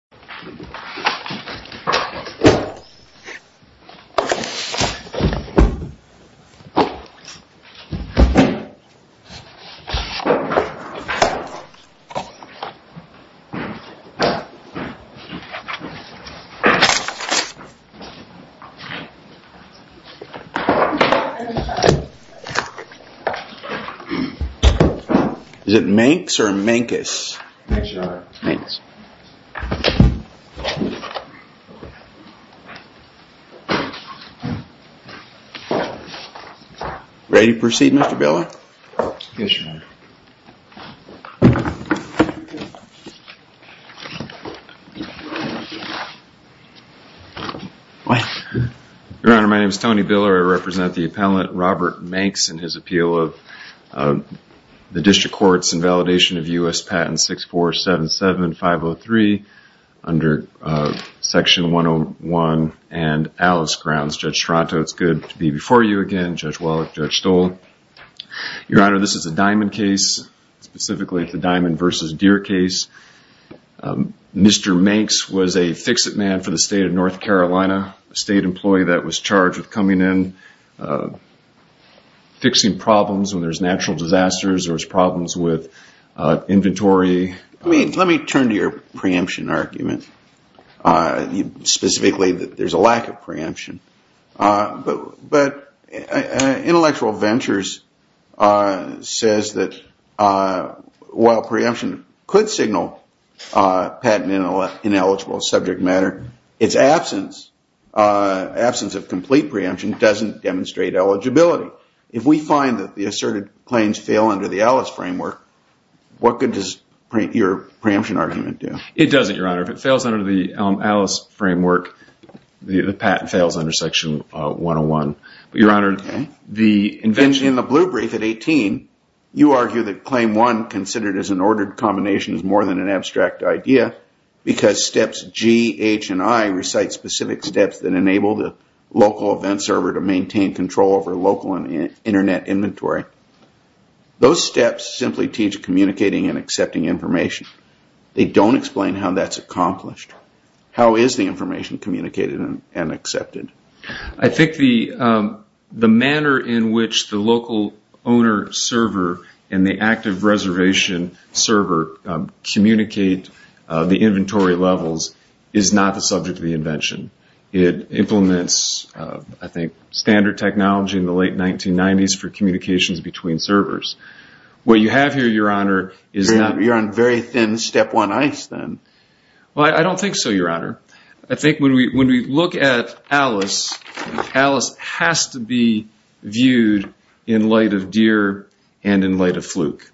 Mankes v. Fandango, LLC Is it Mankes or Mankes? Yes. Ready to proceed, Mr. Biller? Yes, Your Honor. Your Honor, my name is Tony Biller. I represent the appellant Robert Mankes and his appeal of the District Courts Invalidation of U.S. Patent 6477-503 under Section 101 and Alice Grounds. Judge Strato, it's good to be before you again. Judge Wallach, Judge Stoll. Your Honor, this is a Diamond case, specifically the Diamond v. Deere case. Mr. Mankes was a fix-it man for the state of North Carolina, a state employee that was charged with coming in, fixing problems when there's natural disasters or there's problems with inventory. Let me turn to your preemption argument, specifically that there's a lack of preemption. But Intellectual Ventures says that while preemption could signal patent ineligible subject matter, its absence of complete preemption doesn't demonstrate eligibility. If we find that the asserted claims fail under the Alice framework, what good does your preemption argument do? It doesn't, Your Honor. If it fails under the Alice framework, the patent fails under Section 101. Your Honor, the invention in the Blue Brief at 18, you argue that Claim 1, considered as an ordered combination, is more than an abstract idea because steps G, H, and I recite specific steps that enable the local event server to maintain control over local Internet inventory. Those steps simply teach communicating and accepting information. They don't explain how that's accomplished. How is the information communicated and accepted? I think the manner in which the local owner server and the active reservation server communicate the inventory levels is not the subject of the invention. It implements, I think, standard technology in the late 1990s for communications between servers. What you have here, Your Honor, is not- You're on very thin step one ice then. I don't think so, Your Honor. I think when we look at Alice, Alice has to be viewed in light of Deere and in light of Fluke.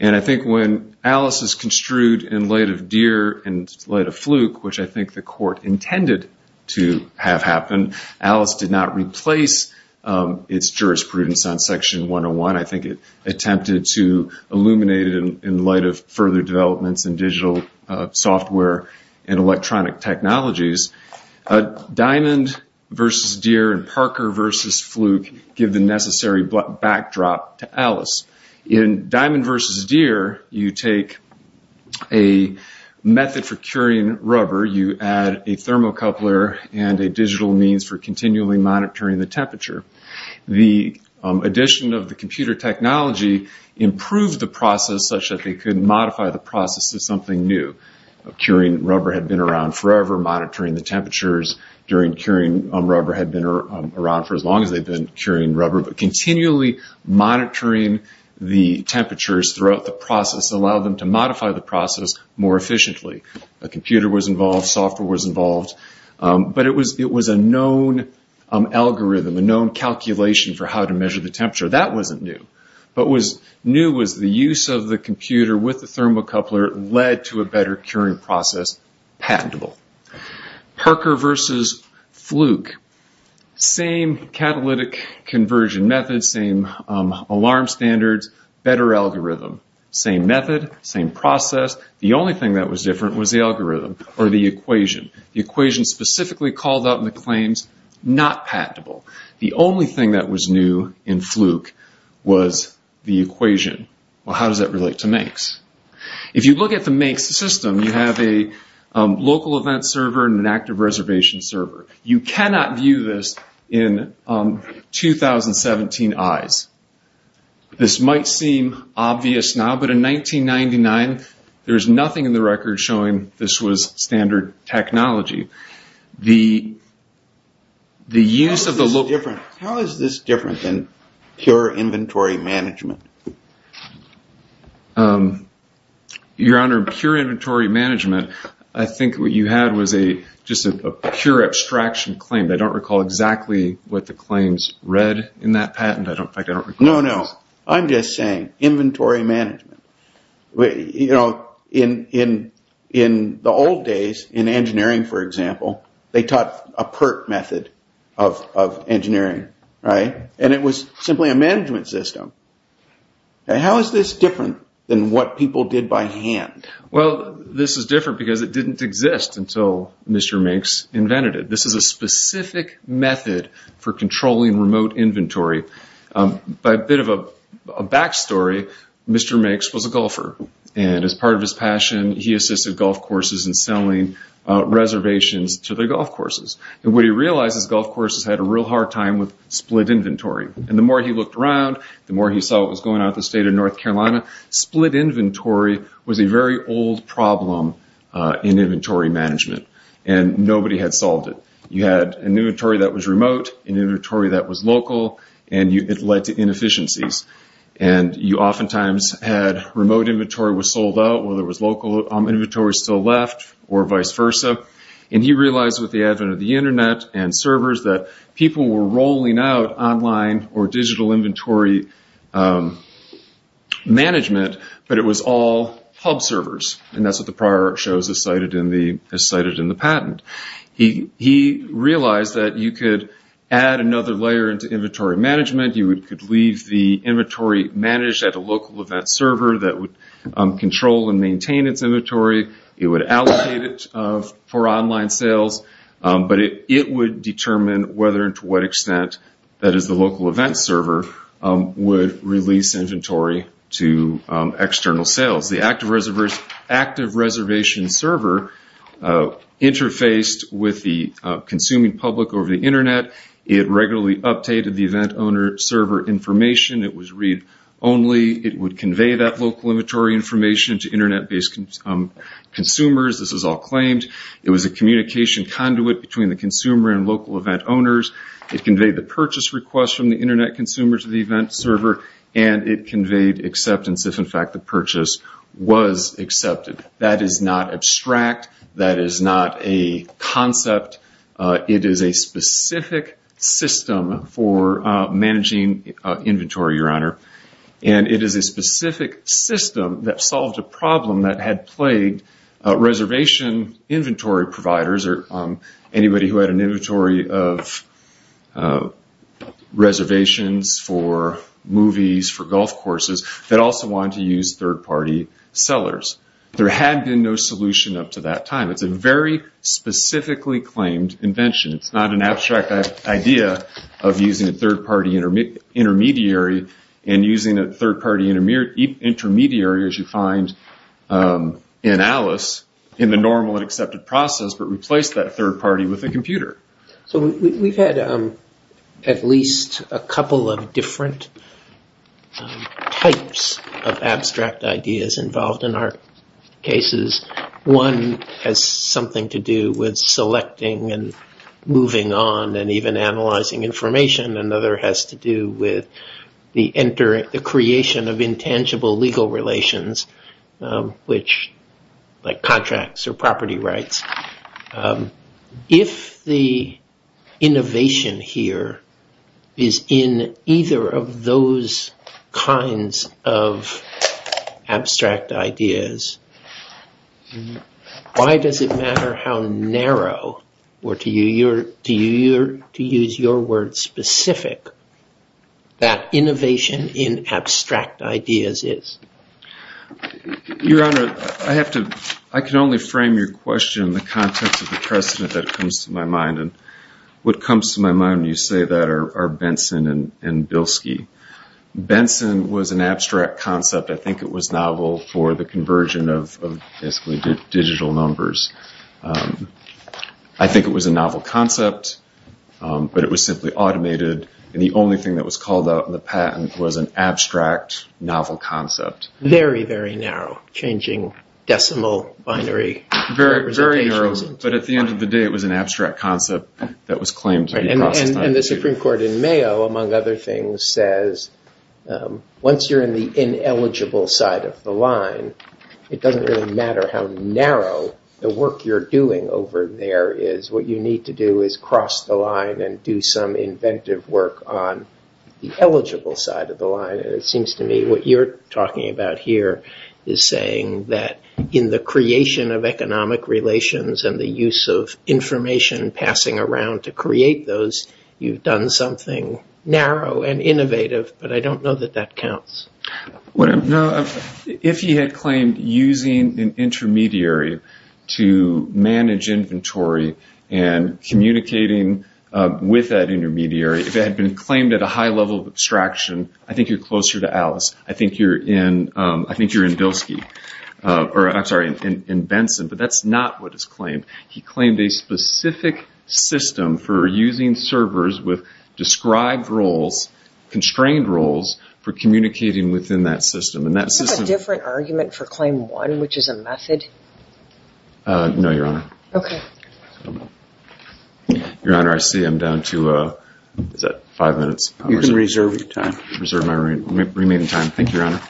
I think when Alice is construed in light of Deere and light of Fluke, which I think the court intended to have happen, Alice did not replace its jurisprudence on Section 101. I think it attempted to illuminate it in light of further developments in digital software and electronic technologies. Diamond versus Deere and Parker versus Fluke give the necessary backdrop to Alice. In Diamond versus Deere, you take a method for curing rubber. You add a thermocoupler and a digital means for continually monitoring the temperature. The addition of the computer technology improved the process such that they could modify the process to something new. Curing rubber had been around forever. Monitoring the temperatures during curing rubber had been around for as long as they'd been curing rubber. But continually monitoring the temperatures throughout the process allowed them to modify the process more efficiently. A computer was involved. Software was involved. But it was a known algorithm, a known calculation for how to measure the temperature. That wasn't new. What was new was the use of the computer with the thermocoupler led to a better curing process, patentable. Parker versus Fluke, same catalytic conversion methods, same alarm standards, better algorithm. Same method, same process. The only thing that was different was the algorithm or the equation. The equation specifically called out in the claims, not patentable. The only thing that was new in Fluke was the equation. Well, how does that relate to MAICS? If you look at the MAICS system, you have a local event server and an active reservation server. You cannot view this in 2017 eyes. This might seem obvious now, but in 1999, there's nothing in the record showing this was standard technology. How is this different than pure inventory management? Your Honor, pure inventory management, I think what you had was just a pure abstraction claim. I don't recall exactly what the claims read in that patent. No, no. I'm just saying inventory management. In the old days, in engineering, for example, they taught a PERT method of engineering. It was simply a management system. How is this different than what people did by hand? Well, this is different because it didn't exist until Mr. MAICS invented it. This is a specific method for controlling remote inventory. A bit of a back story, Mr. MAICS was a golfer. As part of his passion, he assisted golf courses in selling reservations to the golf courses. What he realized is golf courses had a real hard time with split inventory. The more he looked around, the more he saw what was going on at the State of North Carolina, split inventory was a very old problem in inventory management. Nobody had solved it. You had an inventory that was remote, an inventory that was local, and it led to inefficiencies. You oftentimes had remote inventory was sold out, while there was local inventory still left, or vice versa. He realized with the advent of the Internet and servers that people were rolling out online or digital inventory management, but it was all hub servers, and that's what the prior shows as cited in the patent. He realized that you could add another layer into inventory management. You could leave the inventory managed at a local event server that would control and maintain its inventory. It would allocate it for online sales, but it would determine whether and to what extent that is the local event server would release inventory to external sales. The active reservation server interfaced with the consuming public over the Internet. It regularly updated the event owner server information. It was read-only. It would convey that local inventory information to Internet-based consumers. This was all claimed. It was a communication conduit between the consumer and local event owners. It conveyed the purchase request from the Internet consumer to the event server, and it conveyed acceptance if, in fact, the purchase was accepted. That is not abstract. That is not a concept. It is a specific system for managing inventory, Your Honor, and it is a specific system that solved a problem that had plagued reservation inventory providers or anybody who had an inventory of reservations for movies, for golf courses, that also wanted to use third-party sellers. There had been no solution up to that time. It's a very specifically claimed invention. It's not an abstract idea of using a third-party intermediary and using a third-party intermediary, as you find in Alice, in the normal and accepted process, but replace that third-party with a computer. So we've had at least a couple of different types of abstract ideas involved in our cases. One has something to do with selecting and moving on and even analyzing information. Another has to do with the creation of intangible legal relations, like contracts or property rights. If the innovation here is in either of those kinds of abstract ideas, why does it matter how narrow, or to use your words, specific, that innovation in abstract ideas is? Your Honor, I can only frame your question in the context of the precedent that comes to my mind, and what comes to my mind when you say that are Benson and Bilski. Benson was an abstract concept. I think it was novel for the conversion of basically digital numbers. I think it was a novel concept, but it was simply automated, and the only thing that was called out in the patent was an abstract, novel concept. Very, very narrow, changing decimal binary representations. Very narrow, but at the end of the day, it was an abstract concept that was claimed to be processed. And the Supreme Court in Mayo, among other things, says, once you're in the ineligible side of the line, it doesn't really matter how narrow the work you're doing over there is. What you need to do is cross the line and do some inventive work on the eligible side of the line. And it seems to me what you're talking about here is saying that in the creation of economic relations and the use of information passing around to create those, you've done something narrow and innovative, but I don't know that that counts. If he had claimed using an intermediary to manage inventory and communicating with that intermediary, if it had been claimed at a high level of abstraction, I think you're closer to Alice. I think you're in Bilski. I'm sorry, in Benson, but that's not what is claimed. He claimed a specific system for using servers with described roles, for communicating within that system. Do you have a different argument for claim one, which is a method? No, Your Honor. Okay. Your Honor, I see I'm down to five minutes. You can reserve your time. Reserve my remaining time. Thank you, Your Honor.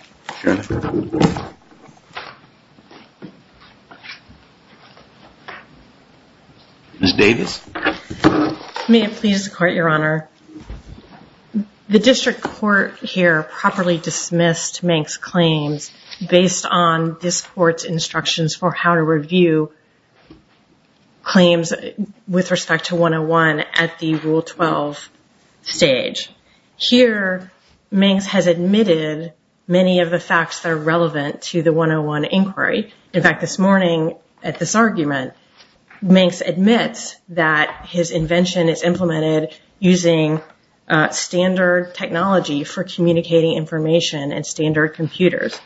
Ms. Davis? May it please the Court, Your Honor? The district court here properly dismissed Manx's claims based on this court's instructions for how to review claims with respect to 101 at the Rule 12 stage. Here, Manx has admitted many of the facts that are relevant to the 101 inquiry. In fact, this morning at this argument, Manx admits that his invention is implemented using standard technology for communicating information and standard computers.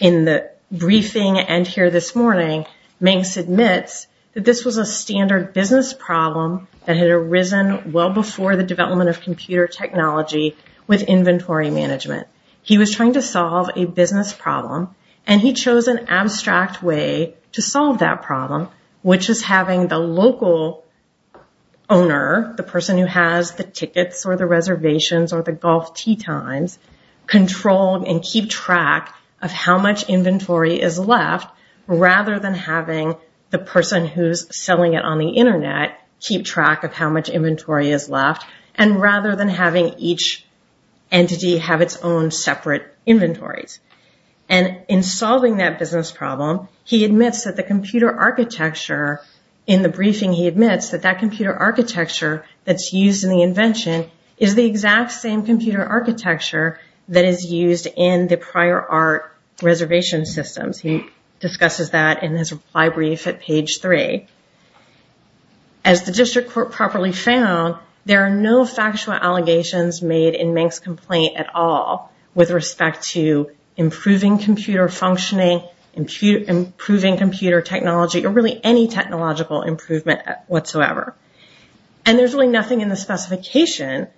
In the briefing and here this morning, Manx admits that this was a standard business problem that had arisen well before the development of computer technology with inventory management. He was trying to solve a business problem, and he chose an abstract way to solve that problem, which is having the local owner, the person who has the tickets or the reservations or the golf tee times, control and keep track of how much inventory is left, rather than having the person who's selling it on the Internet keep track of how much inventory is left, and rather than having each entity have its own separate inventories. In solving that business problem, he admits that the computer architecture in the briefing, he admits that that computer architecture that's used in the invention is the exact same computer architecture that is used in the prior art reservation systems. He discusses that in his reply brief at page 3. As the district court properly found, there are no factual allegations made in Manx's complaint at all with respect to improving computer functioning, improving computer technology, or really any technological improvement whatsoever. And there's really nothing in the specification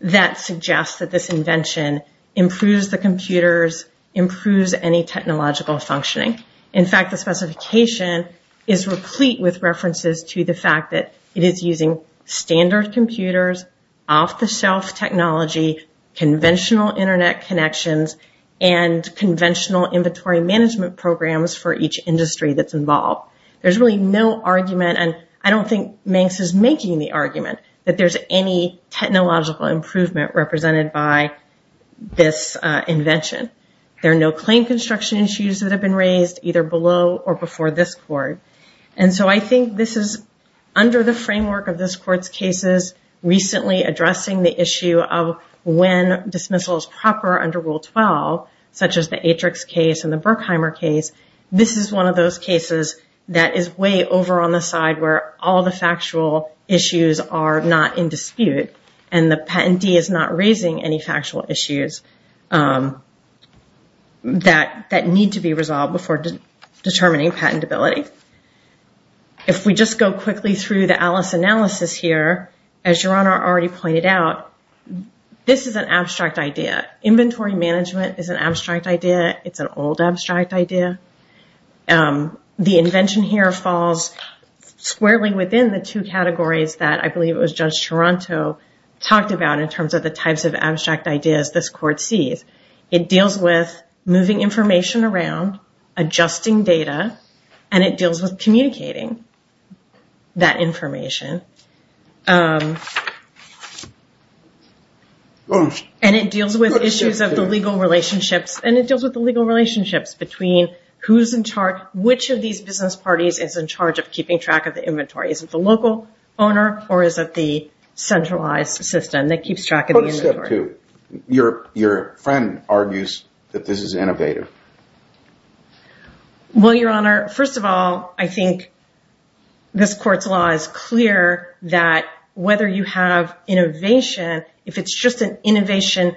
that suggests that this invention improves the computers, improves any technological functioning. In fact, the specification is replete with references to the fact that it is using standard computers, off-the-shelf technology, conventional Internet connections, and conventional inventory management programs for each industry that's involved. There's really no argument, and I don't think Manx is making the argument, that there's any technological improvement represented by this invention. There are no claim construction issues that have been raised, either below or before this court. And so I think this is, under the framework of this court's cases, recently addressing the issue of when dismissal is proper under Rule 12, such as the Atrix case and the Berkheimer case, this is one of those cases that is way over on the side where all the factual issues are not in dispute, and the patentee is not raising any factual issues that need to be resolved before determining patentability. If we just go quickly through the Alice analysis here, as Your Honor already pointed out, this is an abstract idea. Inventory management is an abstract idea. It's an old abstract idea. The invention here falls squarely within the two categories that I believe it was Judge Toronto talked about in terms of the types of abstract ideas this court sees. It deals with moving information around, adjusting data, and it deals with communicating that information. And it deals with issues of the legal relationships, and it deals with the legal relationships between who's in charge, which of these business parties is in charge of keeping track of the inventory. Is it the local owner or is it the centralized system that keeps track of the inventory? Your friend argues that this is innovative. Well, Your Honor, first of all, I think this court's law is clear that whether you have innovation, if it's just an innovation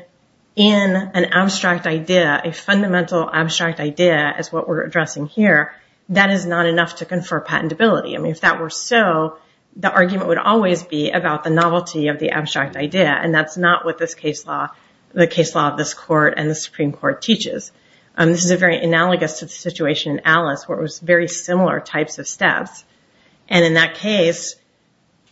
in an abstract idea, a fundamental abstract idea as what we're addressing here, that is not enough to confer patentability. I mean, if that were so, the argument would always be about the novelty of the abstract idea, and that's not what the case law of this court and the Supreme Court teaches. This is very analogous to the situation in Alice, where it was very similar types of steps. And in that case,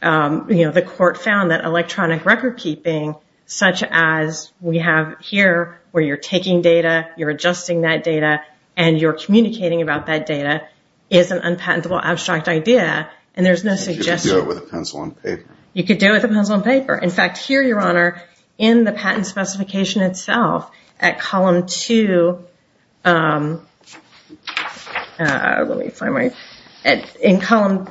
the court found that electronic record keeping, such as we have here, where you're taking data, you're adjusting that data, and you're communicating about that data, is an unpatentable abstract idea, and there's no suggestion. You could do it with a pencil and paper. You could do it with a pencil and paper. In fact, here, Your Honor, in the patent specification itself, at column two, let me find my, in column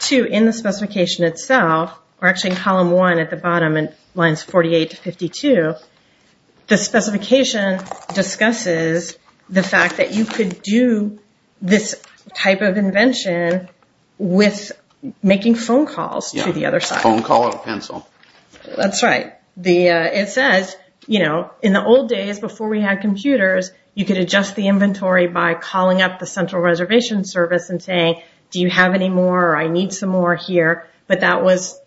two in the specification itself, or actually in column one at the bottom in lines 48 to 52, the specification discusses the fact that you could do this type of invention with making phone calls to the other side. Phone call or pencil. That's right. It says, you know, in the old days, before we had computers, you could adjust the inventory by calling up the central reservation service and saying, do you have any more or I need some more here, but that was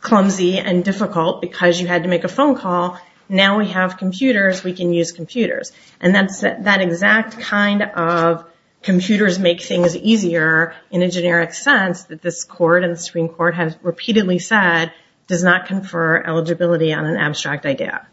clumsy and difficult because you had to make a phone call. Now we have computers, we can use computers. And that exact kind of computers make things easier in a generic sense that this court and the Supreme Court has repeatedly said does not confer eligibility on an abstract idea.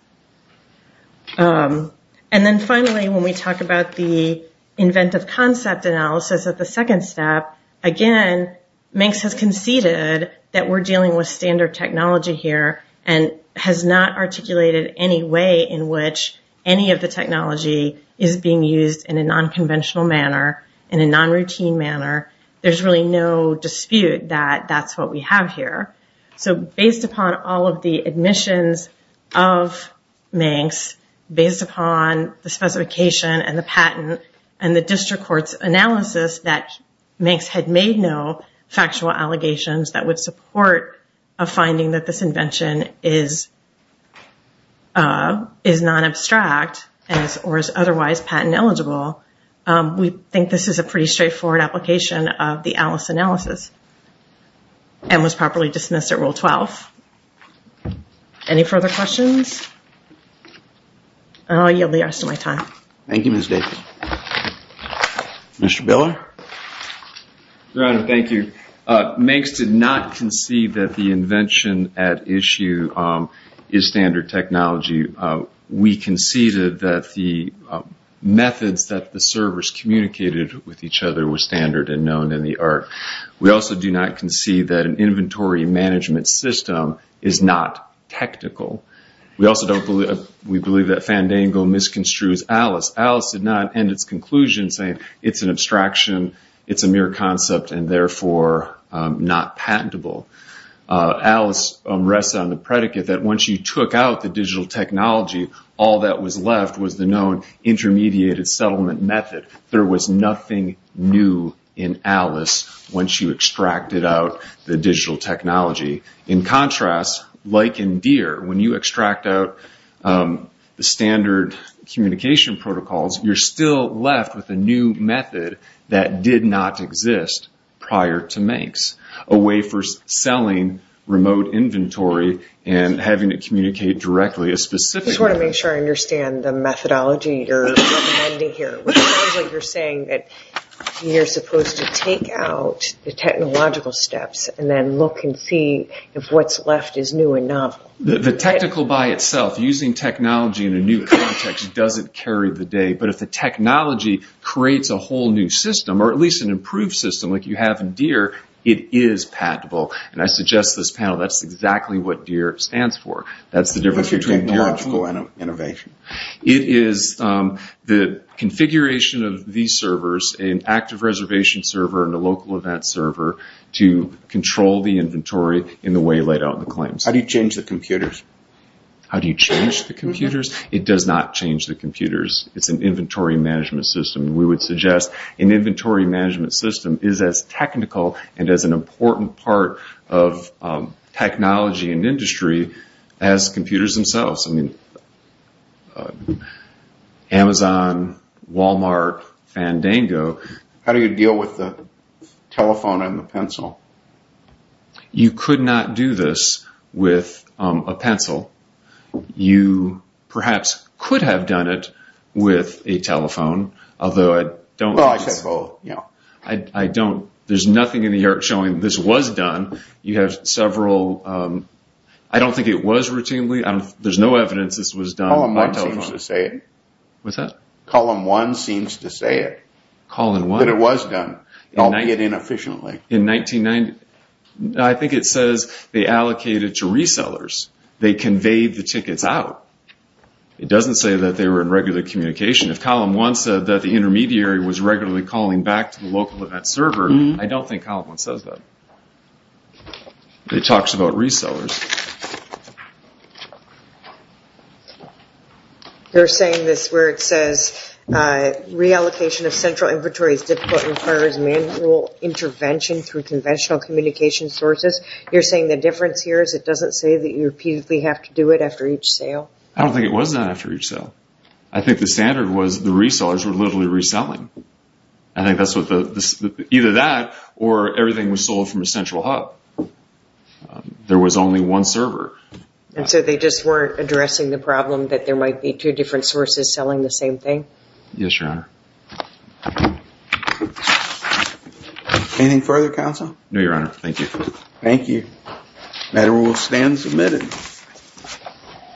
And then finally, when we talk about the inventive concept analysis at the second step, again, Manx has conceded that we're dealing with standard technology here and has not articulated any way in which any of the technology is being used in a non-conventional manner, in a non-routine manner. There's really no dispute that that's what we have here. So based upon all of the admissions of Manx, based upon the specification and the patent and the district court's analysis that Manx had made no factual allegations that would support a finding that this invention is non-abstract or is otherwise patent eligible, we think this is a pretty straightforward application of the Alice analysis and was properly dismissed at Rule 12. Any further questions? And I'll yield the rest of my time. Thank you, Ms. Davis. Mr. Biller? Your Honor, thank you. Manx did not concede that the invention at issue is standard technology. We conceded that the methods that the servers communicated with each other were standard and known in the art. We also do not concede that an inventory management system is not technical. We believe that Fandango misconstrues Alice. Alice did not end its conclusion saying it's an abstraction, it's a mere concept, and therefore not patentable. Alice rests on the predicate that once you took out the digital technology, all that was left was the known intermediated settlement method. There was nothing new in Alice once you extracted out the digital technology. In contrast, like in Deere, when you extract out the standard communication protocols, you're still left with a new method that did not exist prior to Manx, a way for selling remote inventory and having it communicate directly. I just want to make sure I understand the methodology you're recommending here. It sounds like you're saying that you're supposed to take out the technological steps and then look and see if what's left is new and novel. The technical by itself, using technology in a new context, doesn't carry the day. But if the technology creates a whole new system, or at least an improved system, like you have in Deere, it is patentable. And I suggest to this panel that's exactly what Deere stands for. That's the difference between technological and innovation. It is the configuration of these servers, an active reservation server and a local event server, to control the inventory in the way laid out in the claims. How do you change the computers? How do you change the computers? It does not change the computers. It's an inventory management system. We would suggest an inventory management system is as technical and as an important part of technology and industry as computers themselves. I mean, Amazon, Walmart, Fandango. How do you deal with the telephone and the pencil? You could not do this with a pencil. You perhaps could have done it with a telephone, although I don't think it's... I don't. There's nothing in the art showing this was done. You have several... I don't think it was routinely. There's no evidence this was done by telephone. Column 1 seems to say it. What's that? Column 1 seems to say it. Column 1? That it was done, albeit inefficiently. In 1990... I think it says they allocated to resellers. They conveyed the tickets out. It doesn't say that they were in regular communication. If column 1 said that the intermediary was regularly calling back to the local event server, I don't think column 1 says that. It talks about resellers. You're saying this where it says reallocation of central inventory is difficult and requires manual intervention through conventional communication sources. You're saying the difference here is it doesn't say that you repeatedly have to do it after each sale? I don't think it was done after each sale. I think the standard was the resellers were literally reselling. I think that's what the... Either that or everything was sold from a central hub. There was only one server. And so they just weren't addressing the problem that there might be two different sources selling the same thing? Yes, Your Honor. Anything further, Counsel? No, Your Honor. Thank you. Thank you. The matter will stand submitted.